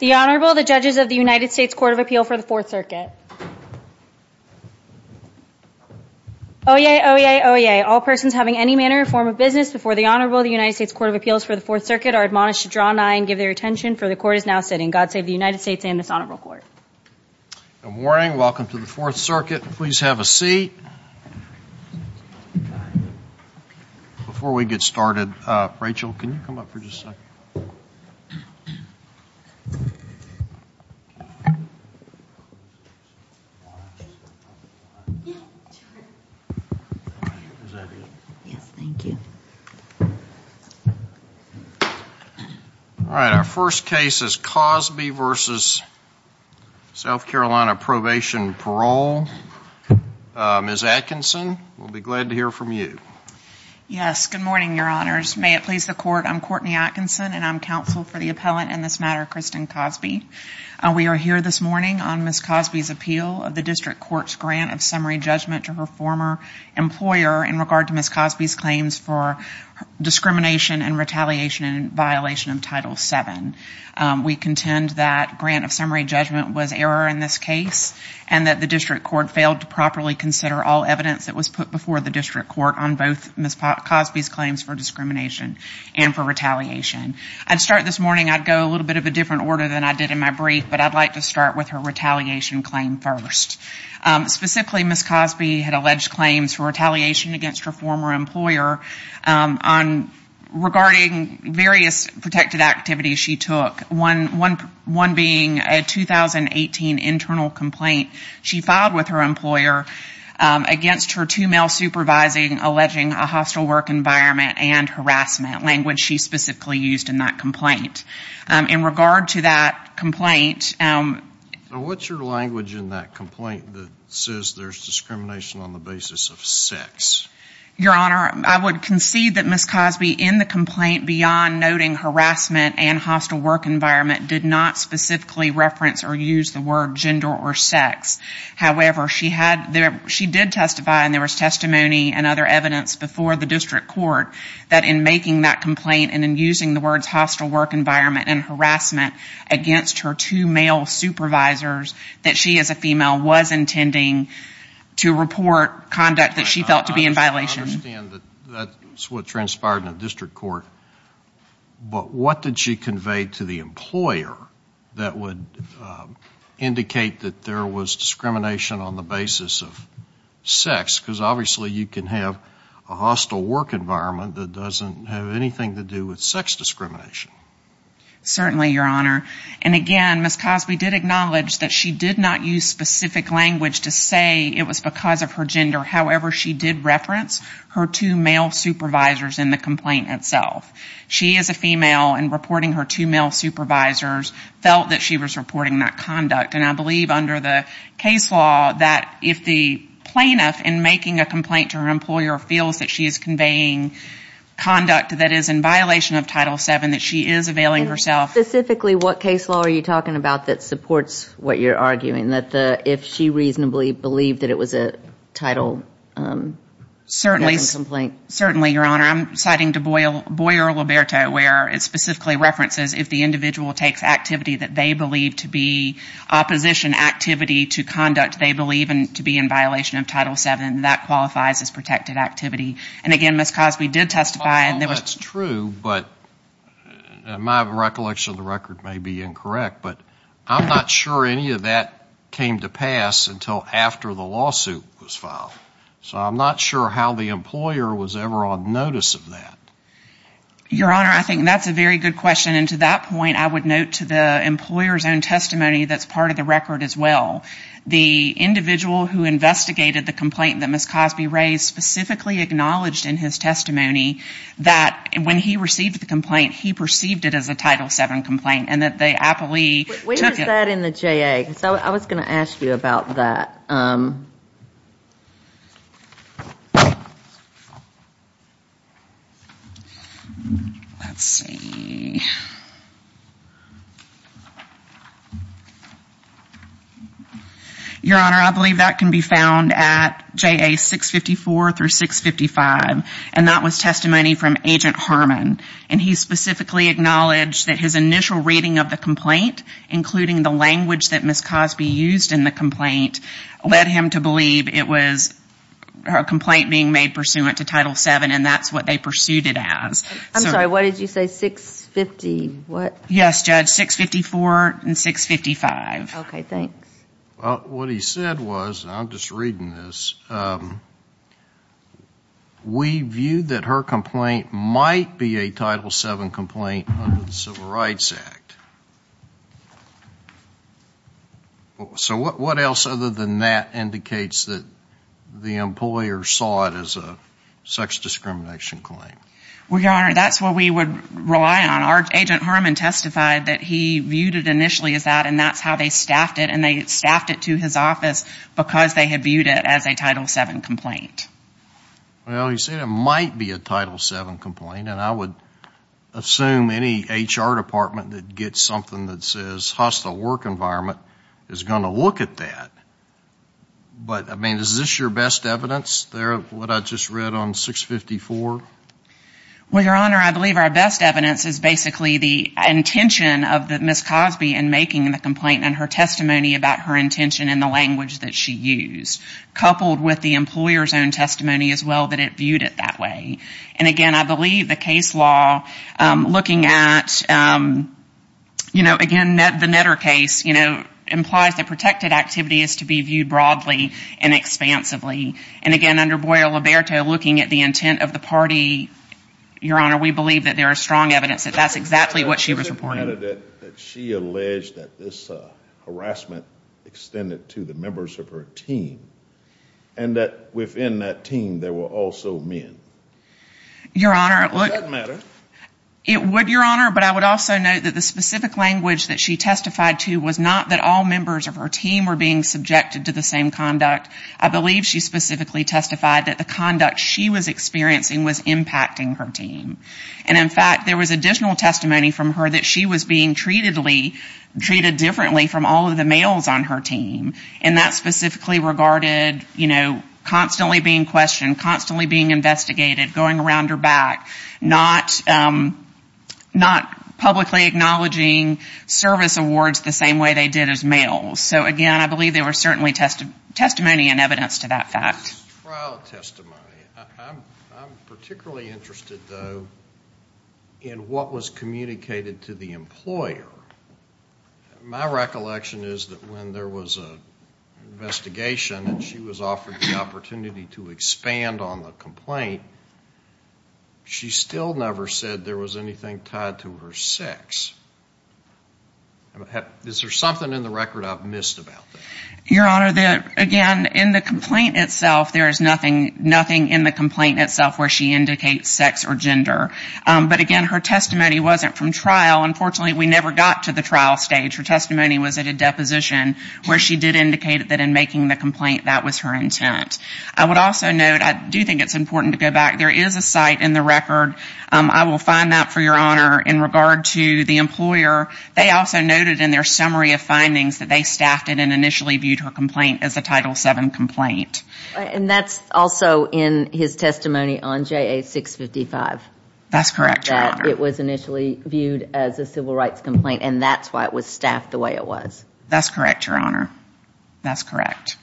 The Honorable the judges of the United States Court of Appeal for the Fourth Circuit. Oyez! Oyez! Oyez! All persons having any manner or form of business before the Honorable the United States Court of Appeals for the Fourth Circuit are admonished to draw an eye and give their attention for the court is now sitting. God save the United States and this Honorable Court. Good morning welcome to the Fourth Circuit. Please have a seat. Before we get started, Rachel, can you come up for just a second? All right our first case is Cosby v. South Carolina Probation, Parole. Ms. Atkinson, we'll be glad to hear from you. Yes, good morning Your Honors. May it please the court, I'm Courtney Atkinson and I'm counsel for the appellant in this matter Kristen Cosby. We are here this morning on Ms. Cosby's appeal of the district court's grant of summary judgment to her former employer in regard to Ms. Cosby's claims for discrimination and retaliation in violation of Title VII. We contend that grant of summary judgment was error in this case and that the district court failed to properly consider all evidence that was put before the district court on both Ms. Cosby's claims for discrimination and for retaliation. I'd start this morning, I'd go a little bit of a different order than I did in my brief, but I'd like to start with her retaliation claim first. Specifically, Ms. Cosby had alleged claims for retaliation against her former employer on regarding various protected activities she took, one being a 2018 internal complaint she filed with her employer against her two male supervising alleging a hostile work environment and harassment, language she specifically used in that complaint. In regard to that complaint, what's your language in that complaint that says there's discrimination on the basis of sex? Your Honor, I would concede that Ms. Cosby in the complaint beyond noting harassment and hostile work environment did not specifically reference or use the word gender or sex. However, she did testify and there was testimony and other evidence before the district court that in making that complaint and in using the words hostile work environment and harassment against her two male supervisors that she as a female was intending to report conduct that she felt to be in violation. I understand that that's what transpired in the district court, but what did she convey to the employer that would indicate that there was discrimination on the basis of sex? Because obviously you can have a hostile work environment that doesn't have anything to do with sex discrimination. Certainly, Your Honor. And again, Ms. Cosby did acknowledge that she did not use specific language to say it was because of her gender. However, she did reference her two male supervisors in the complaint itself. She as a female and reporting her two male supervisors felt that she was reporting that conduct and I believe under the case law that if the plaintiff in making a complaint to her employer feels that she is conveying conduct that is in violation of Title VII that she is availing herself. Specifically, what case law are you talking about that supports what you're arguing that if she reasonably believed that it was a title complaint? Certainly, Your Honor. I'm citing to Boyer-Liberto where it specifically references if the individual takes activity that they believe to be opposition activity to conduct they believe to be in violation of Title VII that qualifies as protected activity. And again, Ms. Cosby did testify. That's true, but my recollection of the record may be incorrect, but I'm not sure any of that came to pass until after the lawsuit was filed. So I'm not sure how the employer was ever on notice of that. Your Honor, I think that's a very good question and to that point I would note to the employer's own testimony that's part of the record as well. The individual who investigated the complaint that Ms. Cosby raised specifically acknowledged in his testimony that when he received the complaint he perceived it as a Title VII complaint and that the appellee took it. Where is that in the JA? I was going to ask you about that. Let's see. Your Honor, I believe that can be found at JA 654 through 655 and that was testimony from Agent Harmon and he specifically acknowledged that his initial reading of the complaint, including the language that Ms. Cosby used in the complaint, led him to believe it was a complaint being made pursuant to Title VII and that's what they pursued it as. I'm sorry, what did you say, 650? What? Yes, Judge, 654 and 655. Okay, thanks. Well, what he said was, I'm just reading this, we view that her complaint might be a Title VII complaint under the Civil Rights Act. So what else other than that indicates that the employer saw it as a sex discrimination claim? Well, Your Honor, that's what we would rely on. Agent Harmon testified that he viewed it initially as that and that's how they staffed it and they staffed it to his office because they had viewed it as a Title VII complaint. Well, he said it might be a Title VII complaint and I would assume any HR department that gets something that says hostile work environment is going to look at that. But, I mean, is this your best evidence there, what I just read on 654? Well, Your Honor, I believe our best evidence is basically the intention of Ms. Cosby in making the complaint and her testimony about her intention and the language that she used, coupled with the employer's own testimony as well that it viewed it that way. And again, I believe the case law looking at, you know, again, the Netter case, you know, implies that protected activity is to be viewed broadly and expansively. And again, under Boyle-Liberto, looking at the intent of the party, Your Honor, we believe that there is strong evidence that that's exactly what she was reporting. She alleged that this harassment extended to the members of her team and that within that team there were also men. Your Honor, it would, Your Honor, but I would also note that the specific language that she testified to was not that all members of her team were being subjected to the same conduct. I believe she specifically testified that the conduct she was experiencing was impacting her team. And in fact, there was additional testimony from her that she was being treated differently from all of the males on her team. And that specifically regarded, you know, constantly being questioned, constantly being investigated, going around her back, not publicly acknowledging service awards the same way they did as males. So again, I believe there were certainly testimony and evidence to that fact. Trial testimony. I'm particularly interested, though, in what was communicated to the investigation. She was offered the opportunity to expand on the complaint. She still never said there was anything tied to her sex. Is there something in the record I've missed about that? Your Honor, again, in the complaint itself there is nothing in the complaint itself where she indicates sex or gender. But again, her testimony wasn't from trial. Unfortunately, we never got to the trial stage. Her testimony was at a deposition where she did indicate that in making the complaint that was her intent. I would also note, I do think it's important to go back, there is a site in the record. I will find that for Your Honor. In regard to the employer, they also noted in their summary of findings that they staffed it and initially viewed her complaint as a Title VII complaint. And that's also in his testimony on JA-655. That's correct, Your Honor. That it was initially viewed as a civil rights complaint, and that's why it was staffed the way it was. That's correct, Your Honor. That's correct.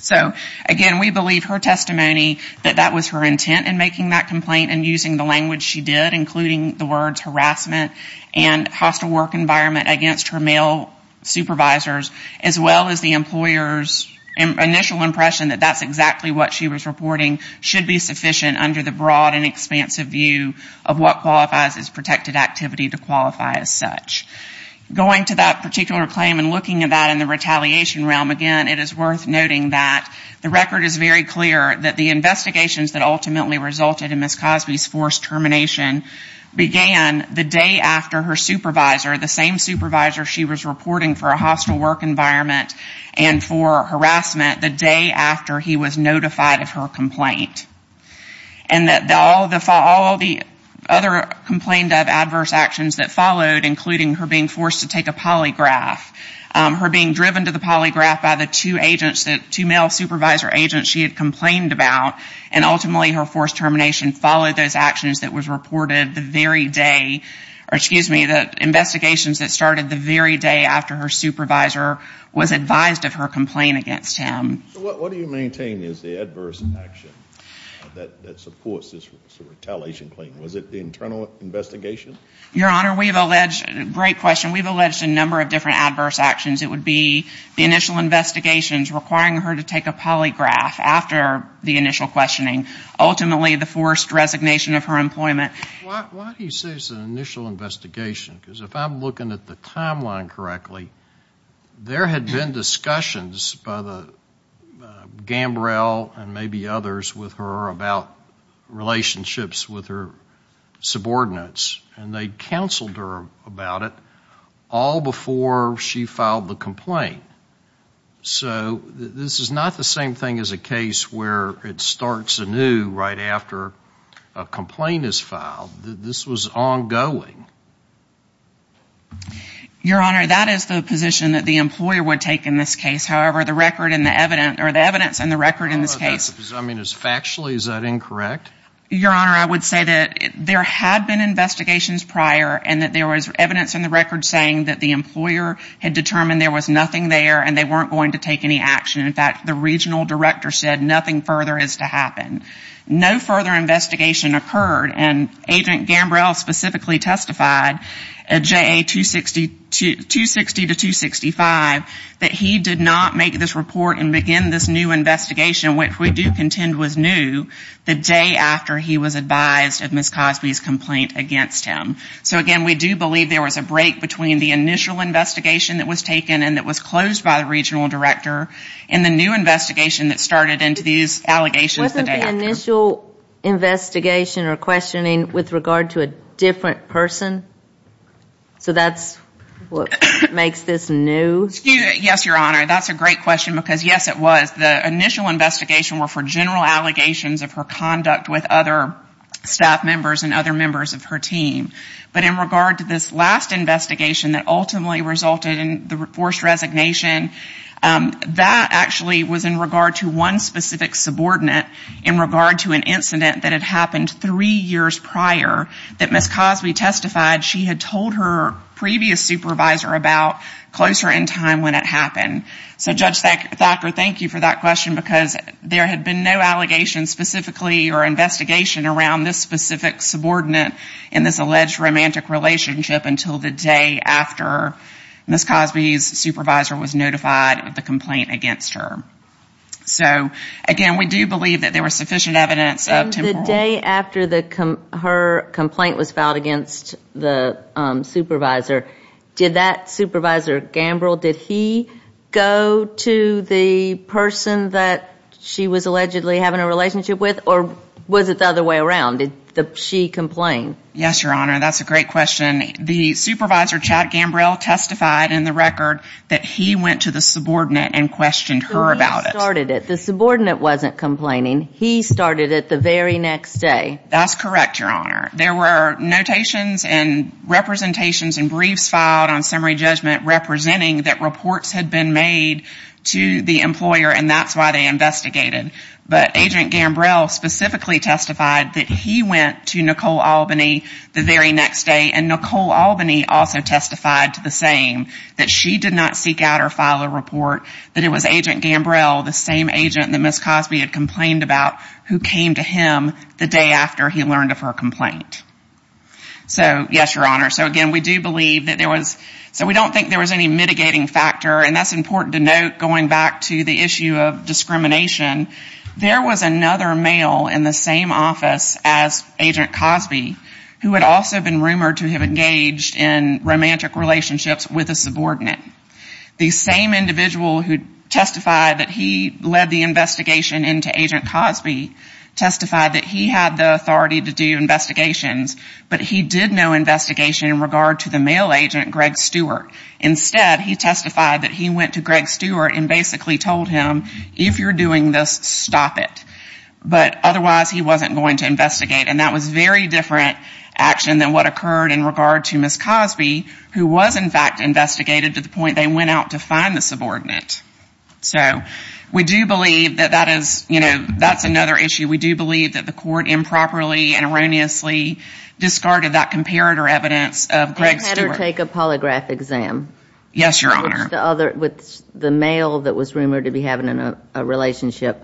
So, again, we believe her testimony that that was her intent in making that complaint and using the language she did, including the words harassment and hostile work environment against her male supervisors, as well as the employer's initial impression that that's exactly what she was reporting should be sufficient under the broad and protected activity to qualify as such. Going to that particular claim and looking at that in the retaliation realm, again, it is worth noting that the record is very clear that the investigations that ultimately resulted in Ms. Cosby's forced termination began the day after her supervisor, the same supervisor she was reporting for a hostile work environment and for harassment, the day after he was notified of her complaint. And that all the other complained of adverse actions that followed, including her being forced to take a polygraph, her being driven to the polygraph by the two agents, two male supervisor agents she had complained about, and ultimately her forced termination followed those actions that was reported the very day, or excuse me, the investigations that started the very day after her supervisor was advised of her complaint against him. So what do you maintain is the adverse action that supports this retaliation claim? Was it the internal investigation? Your Honor, we have alleged, great question, we have alleged a number of different adverse actions. It would be the initial investigations requiring her to take a polygraph after the initial questioning, ultimately the forced resignation of her employment. Why do you say it's an initial investigation? Because if I'm looking at the timeline correctly, there had been discussions by the Gambrel and maybe others with her about relationships with her subordinates, and they counseled her about it all before she filed the complaint. So this is not the same thing as a case where it starts anew right after a complaint is filed. This was ongoing. Your Honor, that is the position that the employer would take in this case. However, the record and the evidence, or the evidence and the record in this case... I mean, factually, is that incorrect? Your Honor, I would say that there had been investigations prior and that there was evidence in the record saying that the employer had determined there was nothing there and they weren't going to take any action. In fact, the regional director said nothing further is to happen. No further investigation occurred, and Agent Gambrel specifically testified at JA 260 to 265 that he did not make this report and begin this new investigation, which we do contend was new, the day after he was advised of Ms. Cosby's complaint against him. So again, we do believe there was a break between the initial investigation that was taken and that was closed by the regional director and the new investigation that started into these allegations the day after. Wasn't the initial investigation or questioning with regard to a different person? So that's what makes this new? Yes, Your Honor. That's a great question because yes, it was. The initial investigation were for general allegations of her conduct with other staff members and other members of her team. But in regard to this last investigation that ultimately resulted in the forced resignation, that actually was in regard to one specific subordinate in regard to an incident that had happened three years prior that Ms. Cosby testified she had told her previous supervisor about closer in time when it happened. So Judge Thacker, thank you for that question because there had been no allegations specifically or investigation around this specific subordinate in this alleged romantic relationship until the day after Ms. Cosby's supervisor was notified of the complaint against her. So again, we do believe that there was sufficient evidence of The day after her complaint was filed against the supervisor, did that supervisor, Gambrill, did he go to the person that she was allegedly having a relationship with or was it the other way around? Did she complain? Yes, Your Honor. That's a great question. The supervisor, Chad Gambrill, testified in the record that he went to the subordinate and questioned her about it. So he started it. The subordinate wasn't complaining. He started it the very next day. That's correct, Your Honor. There were notations and representations and briefs filed on summary judgment representing that reports had been made to the employer and that's why they investigated. But Agent Gambrill specifically testified that he went to Nicole Albany the very next day and Nicole Albany also testified to the same, that she did not seek out or file a report, that it was Agent Gambrill, the same agent that Ms. Cosby had complained about who came to him the day after he learned of her complaint. So, yes, Your Honor. So again, we do believe that there was, so we don't think there was any mitigating factor and that's important to note going back to the issue of discrimination. There was another male in the same office as Agent Cosby who had also been rumored to have engaged in romantic relationships with a subordinate. The same individual who testified that he led the investigation into Agent Cosby testified that he had the authority to do investigations, but he did no investigation in regard to the male agent, Greg Stewart. Instead, he testified that he went to Greg Stewart and basically told him, if you're doing this, stop it. But otherwise, he wasn't going to investigate. And that was very different action than what occurred in regard to Ms. Cosby, who was, in fact, investigated to the point they went out to find the subordinate. So, we do believe that that is, you know, that's another issue. We do believe that the court improperly and erroneously discarded that comparator evidence of Greg Stewart. They had her take a polygraph exam. Yes, Your Honor. With the other, with the male that was rumored to be having a relationship.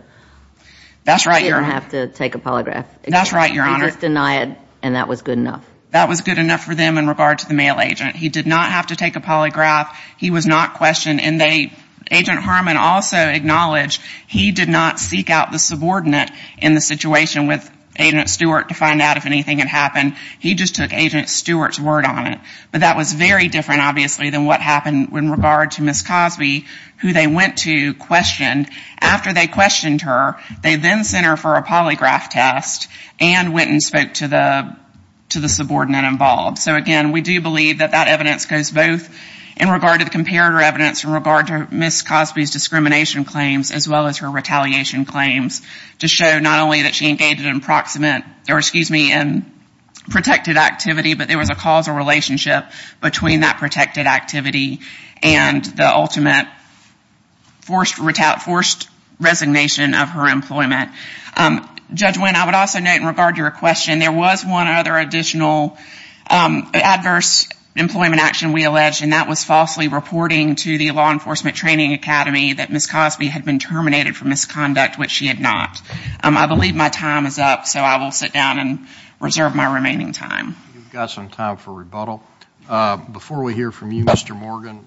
That's right, Your Honor. She didn't have to take a polygraph exam. That's right, Your Honor. They just denied and that was good enough. That was good enough for them in regard to the male agent. He did not have to take a polygraph. He was not questioned. And they, Agent Harmon also acknowledged he did not seek out the subordinate in the situation with Agent Stewart to find out if anything had happened. He just took Agent Stewart's word on it. But that was very different, obviously, than what happened in regard to Ms. Cosby, who they went to, questioned. After they questioned her, they then sent her for a polygraph test and went and spoke to the subordinate involved. So, again, we do believe that that evidence goes both in regard to the comparator evidence in regard to Ms. Cosby's discrimination claims as well as her retaliation claims to show not only that she engaged in proximate, or excuse me, in protected activity, but there was a causal relationship between that protected activity and the ultimate forced resignation of her employment. Judge Wynn, I would also note in regard to your question, there was one other additional adverse employment action we alleged, and that was falsely reporting to the Law Enforcement Training Academy that Ms. Cosby had been terminated for misconduct, which she had not. I believe my time is up, so I will sit down and reserve my remaining time. We've got some time for rebuttal. Before we hear from you, Mr. Morgan.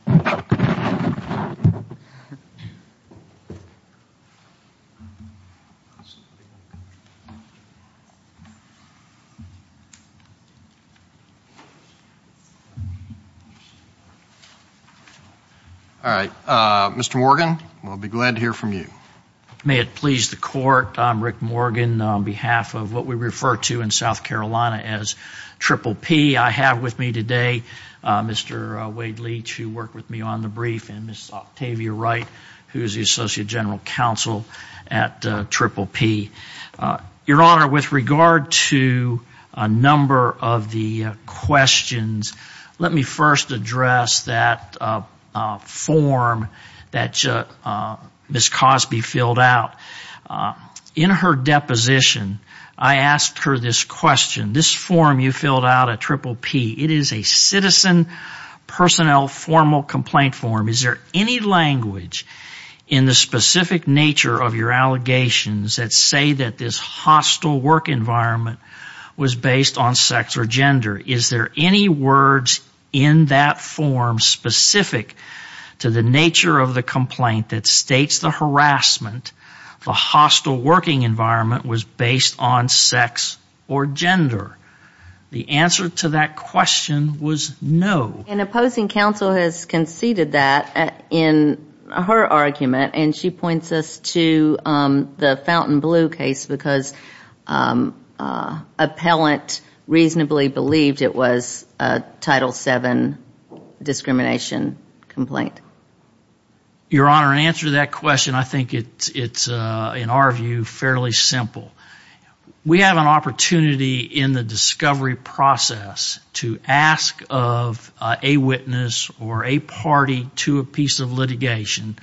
All right. Mr. Morgan, we'll be glad to hear from you. May it please the Court, I'm Rick Morgan. On behalf of what we refer to in South Carolina as Triple P, I have with me today Mr. Wade Leach, who worked with me on the brief, and Ms. Octavia Wright, who is the Associate General Counsel at Triple P. Your Honor, with regard to a number of the questions, let me first address that form that Ms. Cosby filled out. In her deposition, I asked her this question. This form you filled out at Triple P, it is a citizen personnel formal complaint form. Is there any language in the specific nature of your allegations that say that this hostile work environment was based on sex or gender? Is there any words in that form specific to the nature of the complaint that states the harassment, the hostile working environment was based on sex or gender? The answer to that question was no. An opposing counsel has conceded that in her argument, and she points us to the Fountain Blue case because an appellant reasonably believed it was a Title VII discrimination complaint. Your Honor, in answer to that question, I think it's, in our view, fairly simple. We have an opportunity in the discovery process to ask of a witness or a party to a piece of litigation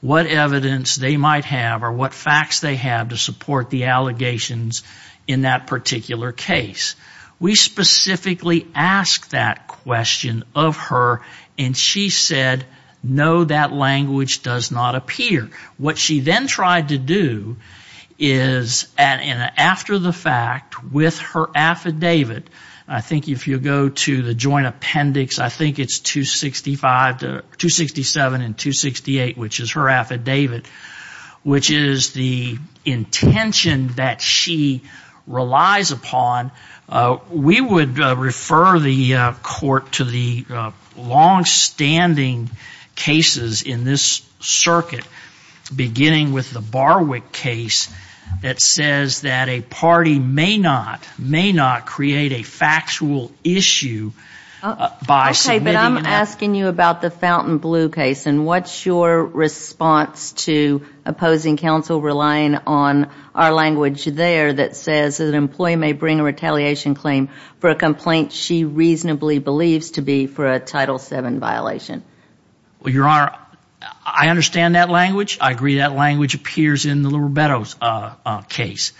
what evidence they might have or what facts they have to support the allegations in that particular case. We specifically ask that question of her, and she said, no, that language does not appear. What she then tried to do is, after the fact, with her affidavit, I think if you go to the joint appendix, I think it's 267 and 268, which is her affidavit, which is the Fountain Blue case. We would refer the Court to the longstanding cases in this circuit, beginning with the Barwick case that says that a party may not, may not create a factual issue by submitting an affidavit. Okay, but I'm asking you about the Fountain Blue case, and what's your response to opposing counsel relying on our language there that says that an employee may bring a retaliation claim for a complaint she reasonably believes to be for a Title VII violation? Well, Your Honor, I understand that language. I agree that language appears in the Little Rebettos case.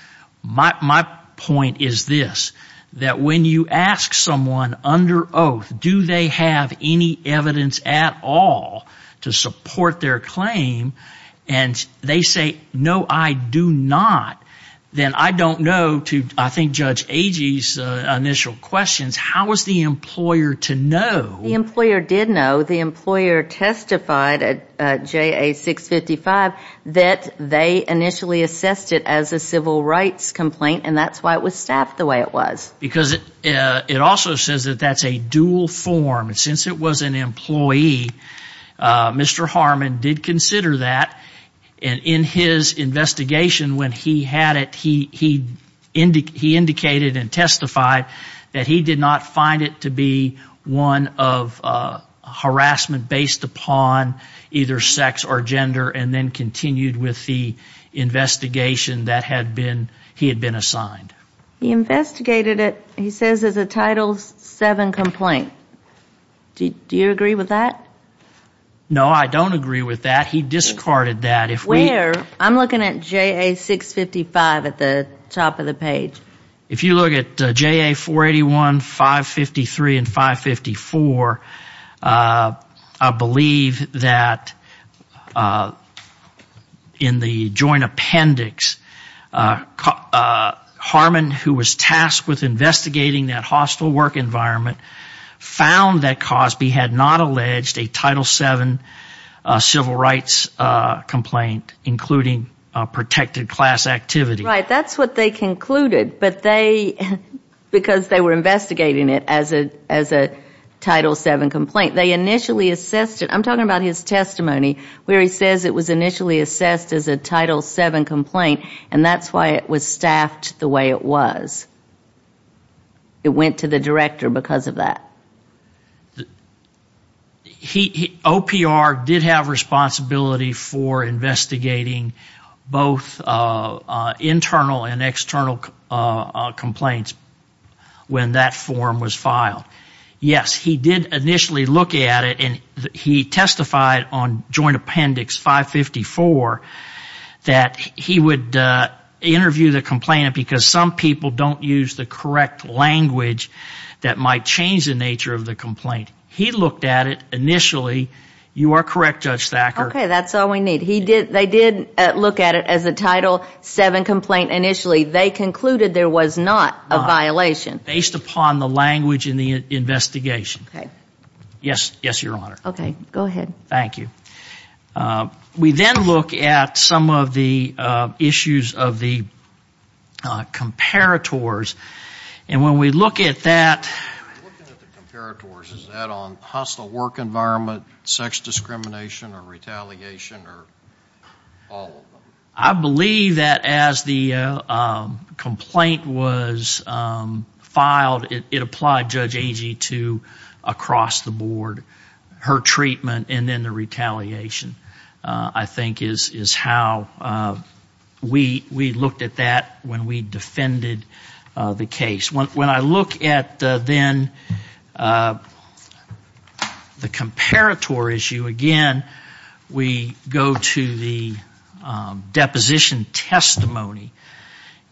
My point is this, that when you ask someone under oath, do they have any evidence at all to support their claim, and they say, no, I do not, then I don't know, to I think Judge Agee's initial questions, how is the employer to know? The employer did know. The employer testified at JA 655 that they initially assessed it as a civil rights complaint, and that's why it was staffed the way it was. Because it also says that that's a dual form, and since it was an employee, Mr. Harmon did consider that. In his investigation, when he had it, he indicated and testified that he did not find it to be one of harassment based upon either sex or gender, and then continued with the investigation that he had been assigned. He investigated it, he says, as a Title VII complaint. Do you agree with that? No, I don't agree with that. He discarded that. Where? I'm looking at JA 655 at the top of the page. If you look at JA 481, 553, and 554, I believe that in the joint appendix, Harmon, who was tasked with investigating that hostile work environment, found that Cosby had not alleged a Title VII civil rights complaint, including protected class activity. Right. That's what they concluded, but they, because they were investigating it as a Title VII complaint, they initially assessed it. I'm talking about his testimony where he says it was initially assessed as a Title VII complaint, and that's why it was staffed the way it was. It went to the director because of that. OPR did have responsibility for investigating both internal and external complaints when that form was filed. Yes, he did initially look at it, and he testified on joint appendix 554 that he would interview the complainant because some people don't use the correct language that might change the nature of the complaint. He looked at it initially. You are correct, Judge Thacker. Okay. That's all we need. They did look at it as a Title VII complaint initially. They concluded there was not a violation. Based upon the language in the investigation. Okay. Yes, Your Honor. Okay. Go ahead. Thank you. Okay. We then look at some of the issues of the comparators, and when we look at that... Looking at the comparators, is that on hostile work environment, sex discrimination, or retaliation, or all of them? I believe that as the complaint was filed, it applied Judge Thacker. Yes. When I look at the comparator issue, again, we go to the deposition testimony,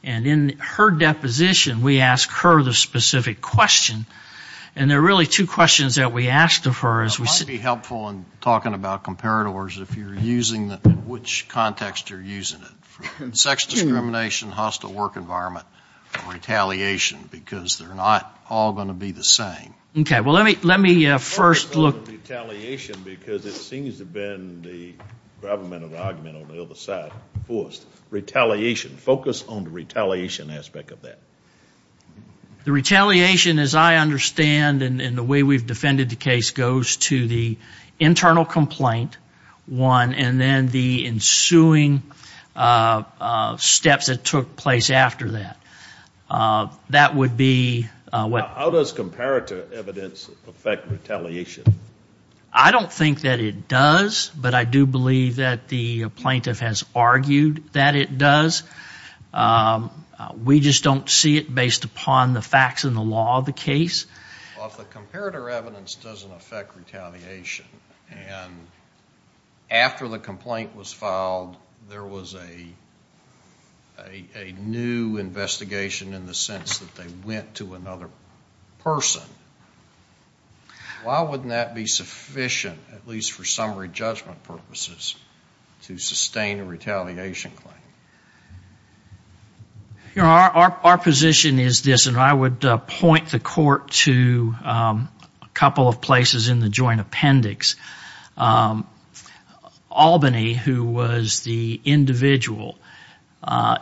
and in her deposition, we ask her the specific question, and there are really two questions that we asked of her. It might be helpful in talking about comparators, if you are using it, which context you are using it. Sex discrimination, hostile work environment, or retaliation, because they are not all going to be the same. Okay. Let me first look... The retaliation, because it seems to have been the governmental argument on the other side. Retaliation. Focus on the retaliation aspect of that. The retaliation, as I understand, and the way we have defended the case, goes to the internal complaint, one, and then the ensuing steps that took place after that. That would be... How does comparator evidence affect retaliation? I don't think that it does, but I do believe that the plaintiff has argued that it does. We just don't see it based upon the facts and the law of the case. Well, if the comparator evidence doesn't affect retaliation, and after the complaint was filed, there was a new investigation in the sense that they went to another person, why wouldn't that be sufficient, at least for summary judgment purposes, to sustain a retaliation claim? Our position is this, and I would point the court to a couple of places in the joint appendix. Albany, who was the individual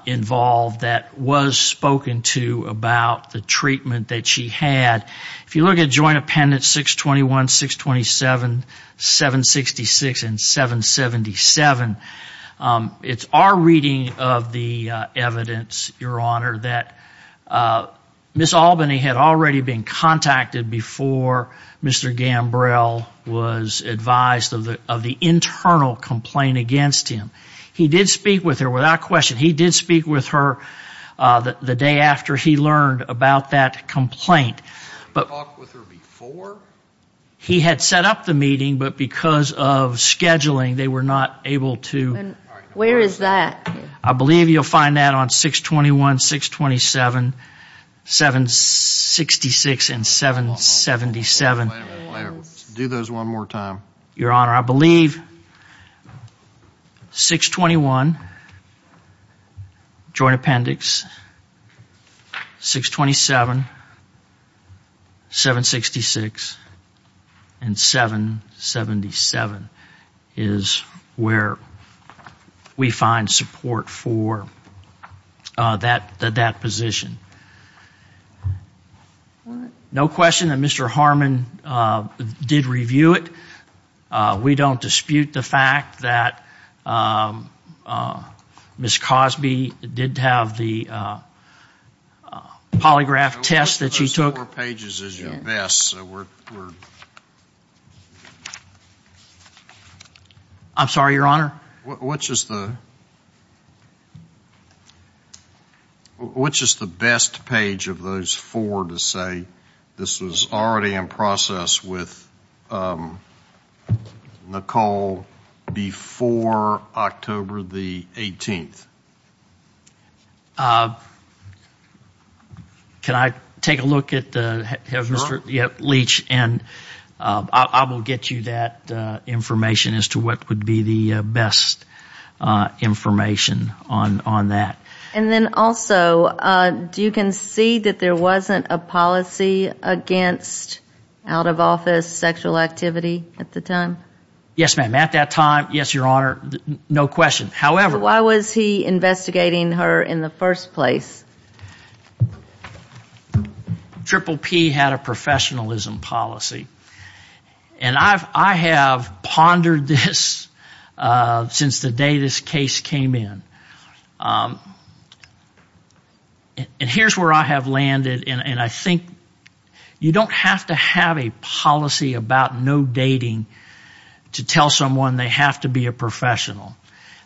involved that was spoken to about the treatment that she had, if you look at joint appendix 621, 627, 766, and 777, it's our reading that Ms. Albany had already been contacted before Mr. Gambrell was advised of the internal complaint against him. He did speak with her, without question. He did speak with her the day after he learned about that complaint. He talked with her before? He had set up the meeting, but because of scheduling, they were not able to... Where is that? I believe you'll find that on 621, 627, 766, and 777. Do those one more time. Your Honor, I believe 621, joint appendix, 627, 766, and 777 is the court for that position. No question that Mr. Harmon did review it. We don't dispute the fact that Ms. Cosby did have the polygraph test that she took. Those four pages is your best, so we're... I'm sorry, Your Honor? Which is the best page of those four to say this was already in process with Nicole before October the 18th? Can I take a look at Mr. Leach, and I will get you that information as to what would be the best information on that. Also, do you concede that there wasn't a policy against out-of-office sexual activity at the time? Yes, ma'am. At that time, yes, Your Honor, no question. However... Why was he investigating her in the first place? Triple P had a professionalism policy, and I have pondered this since the day this case came in. And here's where I have landed, and I think you don't have to have a policy about no dating to tell someone they have to be a professional.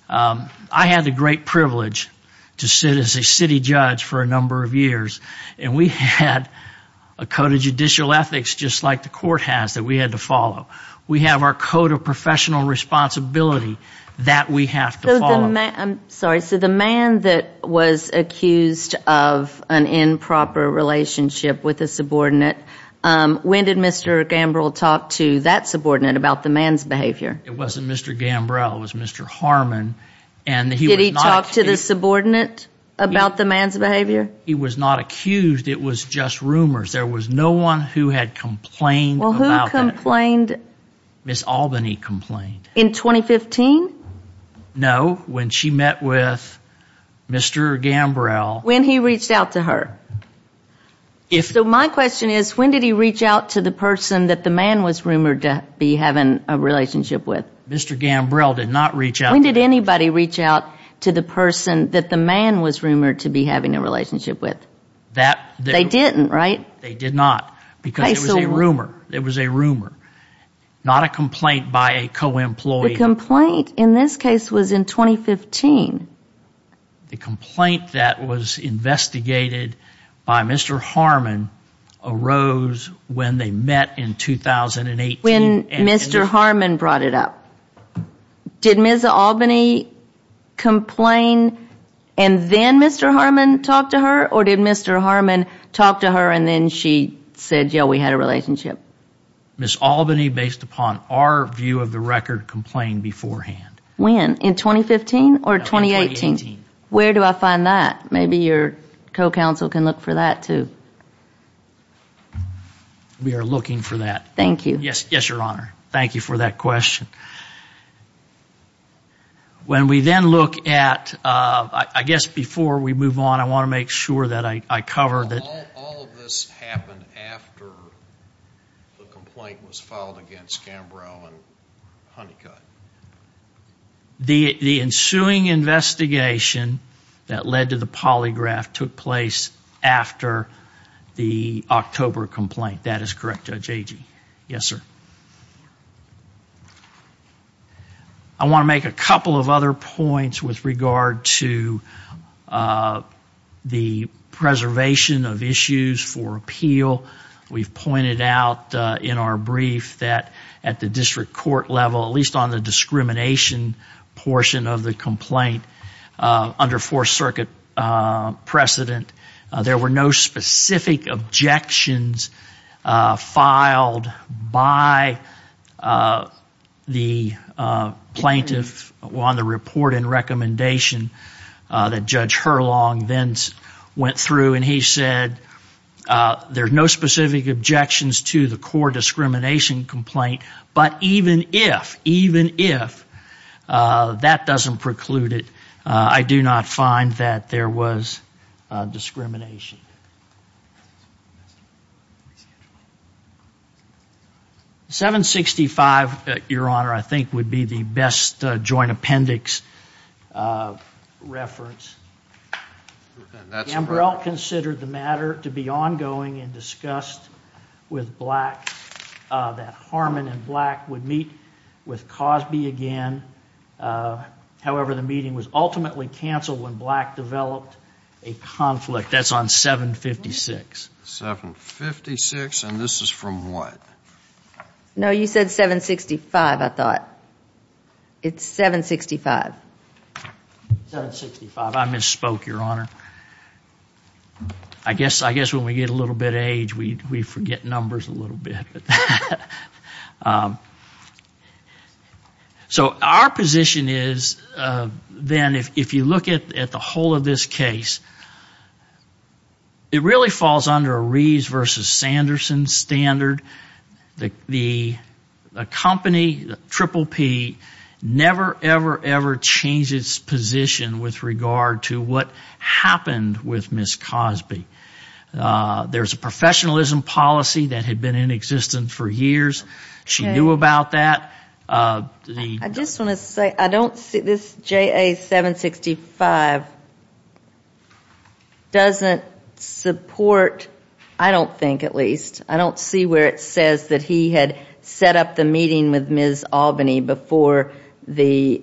I had the great privilege to sit as a city judge for a number of years, and we had a code of judicial ethics just like the court has that we had to follow. We have our code of professional responsibility that we have to follow. I'm sorry. So the man that was accused of an improper relationship with a subordinate, when did Mr. Gambrill talk to that subordinate about the man's behavior? It wasn't Mr. Gambrill. It was Mr. Harmon. Did he talk to the subordinate about the man's behavior? He was not accused. It was just rumors. There was no one who had complained about that. Well, who complained? Ms. Albany complained. In 2015? No, when she met with Mr. Gambrill. When he reached out to her? So my question is, when did he reach out to the person that the man was rumored to be having a relationship with? Mr. Gambrill did not reach out to that person. When did anybody reach out to the person that the man was rumored to be having a relationship with? They didn't, right? They did not, because it was a rumor. It was a rumor, not a complaint by a co-employee. The complaint in this case was in 2015. The complaint that was investigated by Mr. Harmon arose when they met in 2018. When Mr. Harmon brought it up. Did Ms. Albany complain and then Mr. Harmon talked to her, or did Mr. Harmon talk to her and then she said, yeah, we had a relationship? Ms. Albany, based upon our view of the record, complained beforehand. When? In 2015 or 2018? 2018. Where do I find that? Maybe your co-counsel can look for that, too. We are looking for that. Thank you. Yes, Your Honor. Thank you for that question. When we then look at, I guess before we move on, I want to make sure that I cover that. All of this happened after the complaint was filed against Gambrill and Honeycutt. The ensuing investigation that led to the polygraph took place after the October complaint. I think that is correct, Judge Agee. Yes, sir. I want to make a couple of other points with regard to the preservation of issues for appeal. We've pointed out in our brief that at the district court level, at least on the discrimination portion of the complaint under Fourth Circuit precedent, there were no specific objections filed by the plaintiff on the report and recommendation that Judge Herlong then went through, and he said there's no specific objections to the core discrimination complaint, but even if, even if, that doesn't preclude it, I do not find that there was discrimination. 765, Your Honor, I think would be the best joint appendix reference. Gambrill considered the matter to be ongoing and discussed with Black that Harmon and Black would meet with Cosby again. However, the meeting was ultimately canceled when Black developed a conflict. That's on 756. 756, and this is from what? No, you said 765, I thought. It's 765. 765. I misspoke, Your Honor. I guess when we get a little bit of age, we forget numbers a little bit. So our position is, then, if you look at the whole of this case, it really falls under a Reeves versus Sanderson standard. The company, Triple P, never, ever, ever changed its position with regard to what happened with Ms. Cosby. There's a professionalism policy that had been in existence for years. She knew about that. I just want to say, this JA 765 doesn't support, I don't think at least, I don't see where it says that he had set up the meeting with Ms. Albany before the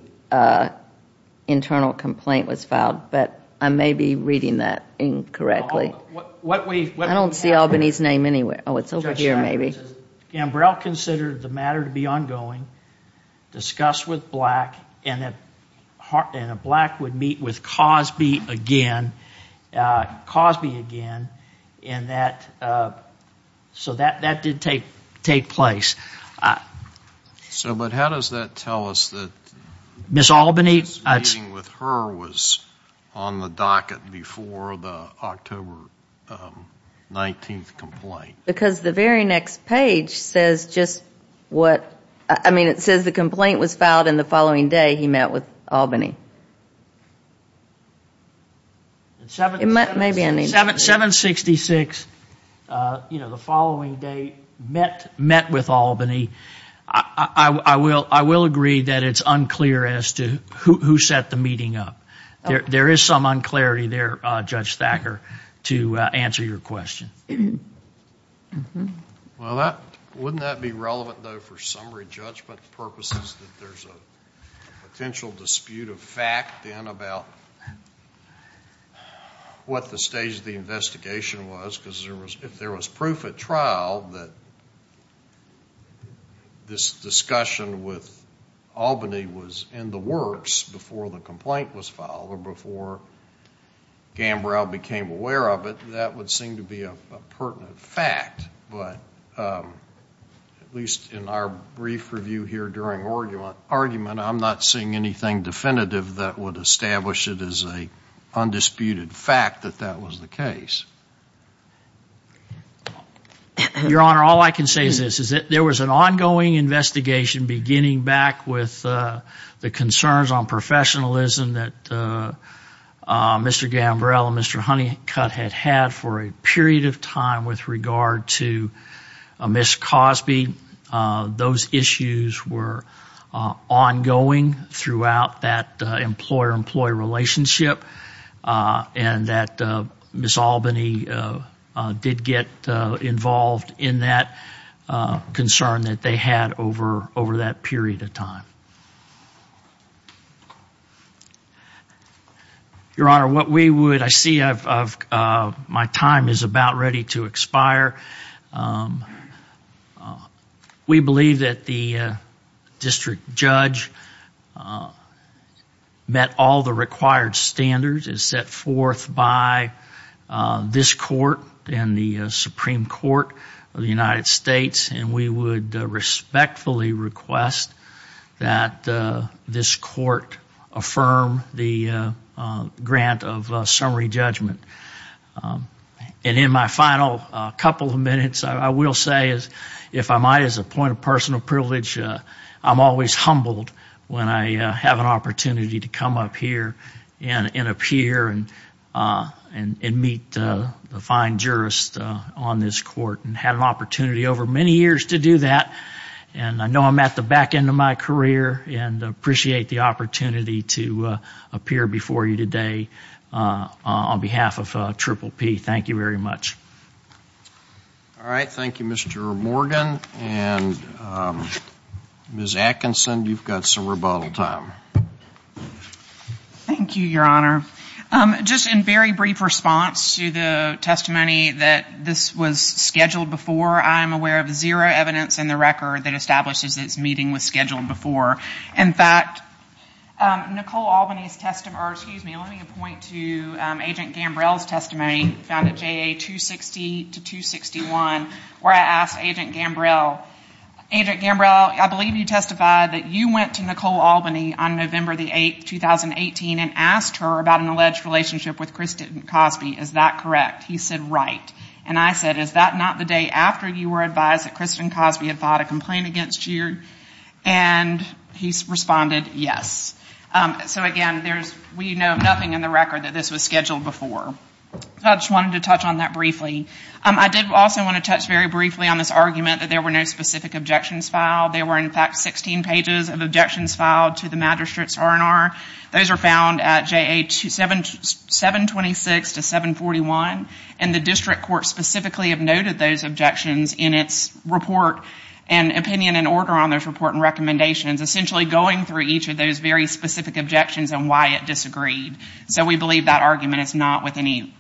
internal complaint was filed, but I may be reading that incorrectly. I don't see Albany's name anywhere. Oh, it's over here, maybe. Gambrel considered the matter to be ongoing, discussed with Black, and Black would meet with Cosby again, Cosby again, and that, so that did take place. So, but how does that tell us that Ms. Albany's meeting with her was on the docket before the October 19th complaint? Because the very next page says just what, I mean, it says the complaint was filed in the following day he met with Albany. It may be anything. 766, you know, the following day, met with Albany. I will agree that it's unclear as to who set the meeting up. There is some unclarity there, Judge Thacker, to answer your question. Well, wouldn't that be relevant, though, for summary judgment purposes that there's a potential dispute of fact then about what the stage of the investigation was because if there was proof at trial that this discussion with Albany was in the works before the complaint was filed or before Gambrel became aware of it, that would seem to be a pertinent fact. But at least in our brief review here during argument, I'm not seeing anything definitive that would establish it as an undisputed fact that that was the case. Your Honor, all I can say is this, there was an ongoing investigation beginning back with the concerns on professionalism that Mr. Gambrel and Mr. Honeycutt had had for a period of time with regard to Ms. Cosby. Those issues were ongoing throughout that employer-employee relationship and that Ms. Albany did get involved in that concern that they had over that period of time. Your Honor, what we would... I see my time is about ready to expire. We believe that the district judge met all the required standards and set forth by this court and the Supreme Court of the United States and we would respectfully request that this court affirm the grant of summary judgment. And in my final couple of minutes, I will say, if I might, as a point of personal privilege, I'm always humbled when I have an opportunity to come up here and appear and meet the fine jurist on this court and had an opportunity over many years to do that and I know I'm at the back end of my career and appreciate the opportunity to appear before you today on behalf of Triple P. Thank you very much. All right. Thank you, Mr. Morgan. And Ms. Atkinson, you've got some rebuttal time. Thank you, Your Honor. Just in very brief response to the testimony that this was scheduled before, I'm aware of zero evidence in the record that establishes this meeting was scheduled before. In fact, Nicole Albany's testimony... or excuse me, let me point to Agent Gambrell's testimony found at JA 260-261 where I asked Agent Gambrell, Agent Gambrell, I believe you testified that you went to Nicole Albany on November 8, 2018 and asked her about an alleged relationship with Kristen Cosby. Is that correct? He said, right. And I said, is that not the day after you were advised that Kristen Cosby had filed a complaint against you? And he responded, yes. So again, we know nothing in the record that this was scheduled before. I just wanted to touch on that briefly. I did also want to touch very briefly on this argument that there were no specific objections filed. There were in fact 16 pages of objections filed to the magistrate's R&R. Those are found at JA 726-741 and the district court specifically have noted those objections in its report and opinion and order on those report and recommendations, essentially going through each of those very specific objections and why it disagreed. So we believe that argument is not with any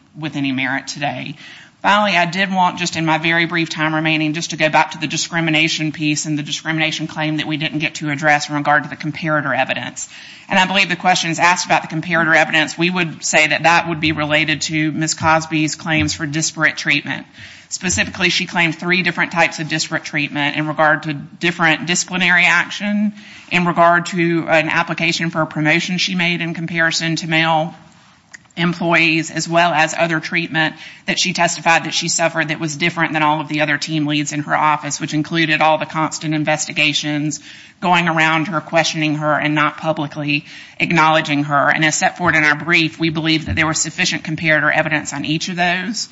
merit today. Finally, I did want, just in my very brief time remaining, just to go back to the discrimination piece and the discrimination claim that we didn't get to address in regard to the comparator evidence. And I believe the questions asked about the comparator evidence, we would say that that would be related to Ms. Cosby's claims for disparate treatment. Specifically, she claimed three different types of disparate treatment in regard to different disciplinary action, in regard to an application for a promotion she made in comparison to male employees, as well as other treatment that she testified that she suffered that was different than all of the other team leads in her office, which included all the constant investigations going around her, questioning her, and not publicly acknowledging her. And as set forth in our brief, we believe that there was sufficient comparator evidence on each of those.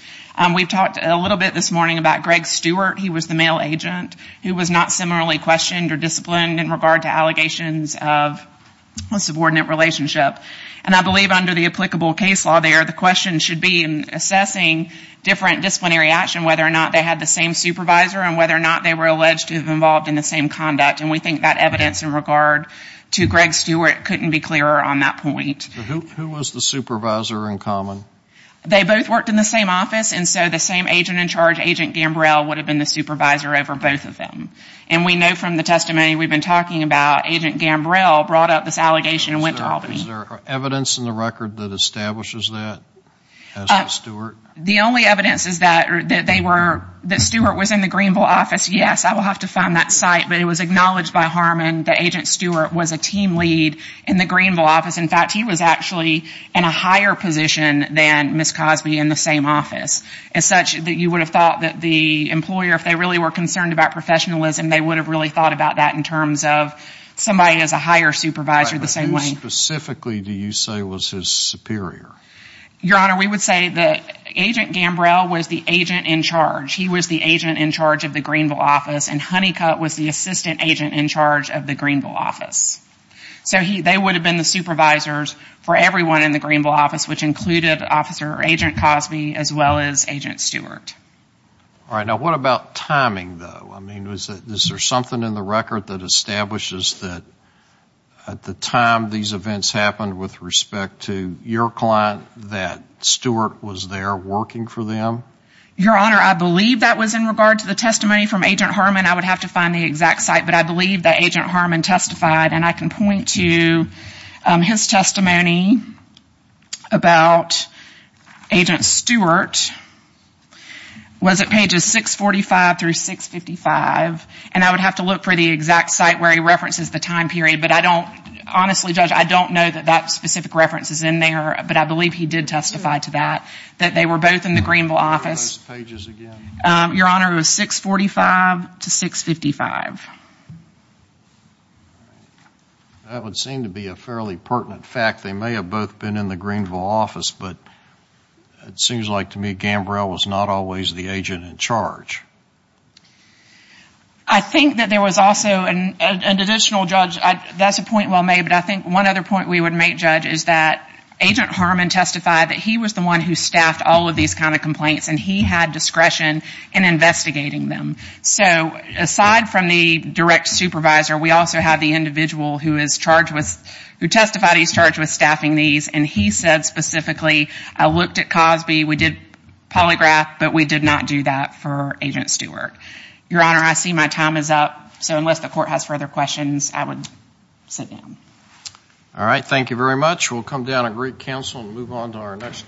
We've talked a little bit this morning about Greg Stewart. He was the male agent who was not similarly questioned or disciplined in regard to allegations of a subordinate relationship. And I believe under the applicable case law there, the question should be in assessing different disciplinary action, whether or not they had the same supervisor and whether or not they were alleged to have been involved in the same conduct. And we think that evidence in regard to Greg Stewart couldn't be clearer on that point. Who was the supervisor in common? They both worked in the same office, and so the same agent in charge, Agent Gambrell, would have been the supervisor over both of them. And we know from the testimony we've been talking about, Agent Gambrell brought up this allegation and went to Albany. Is there evidence in the record that establishes that as to Stewart? The only evidence is that they were, that Stewart was in the Greenville office. Yes, I will have to find that site, but it was acknowledged by Harmon that Agent Stewart was a team lead in the Greenville office. In fact, he was actually in a higher position than Ms. Cosby in the same office, as such that you would have thought that the employer, if they really were concerned about professionalism, they would have really thought about that in terms of somebody as a higher supervisor the same way. Right, but who specifically do you say was his superior? Your Honor, we would say that Agent Gambrell was the agent in charge. He was the agent in charge of the Greenville office and Honeycutt was the assistant agent in charge of the Greenville office. So they would have been the supervisors for everyone in the Greenville office, which included Officer Agent Cosby as well as Agent Stewart. All right, now what about timing, though? I mean, is there something in the record that establishes that at the time these events happened with respect to your client that Stewart was there working for them? Your Honor, I believe that was in regard to the testimony from Agent Harmon. I would have to find the exact site, but I believe that Agent Harmon testified and I can point to his testimony about Agent Stewart was at pages 645 through 655 and I would have to look for the exact site where he references the time period, but I don't, honestly, Judge, I don't know that that specific reference is in there, but I believe he did testify to that, that they were both in the Greenville office. What were those pages again? Your Honor, it was 645 to 655. That would seem to be a fairly pertinent fact. They may have both been in the Greenville office, but it seems like to me Gambrell was not always the agent in charge. I think that there was also an additional, Judge, that's a point well made, but I think one other point we would make, Judge, is that Agent Harmon testified that he was the one who staffed all of these kind of complaints and he had discretion in investigating them. So, aside from the direct supervisor, we also have the individual who testified he's charged with staffing these and he said specifically, I looked at Cosby, we did polygraph, but we did not do that for Agent Stewart. Your Honor, I see my time is up, so unless the court has further questions, I would sit down. All right. Thank you very much. We'll come down and recounsel and move on to our next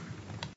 case.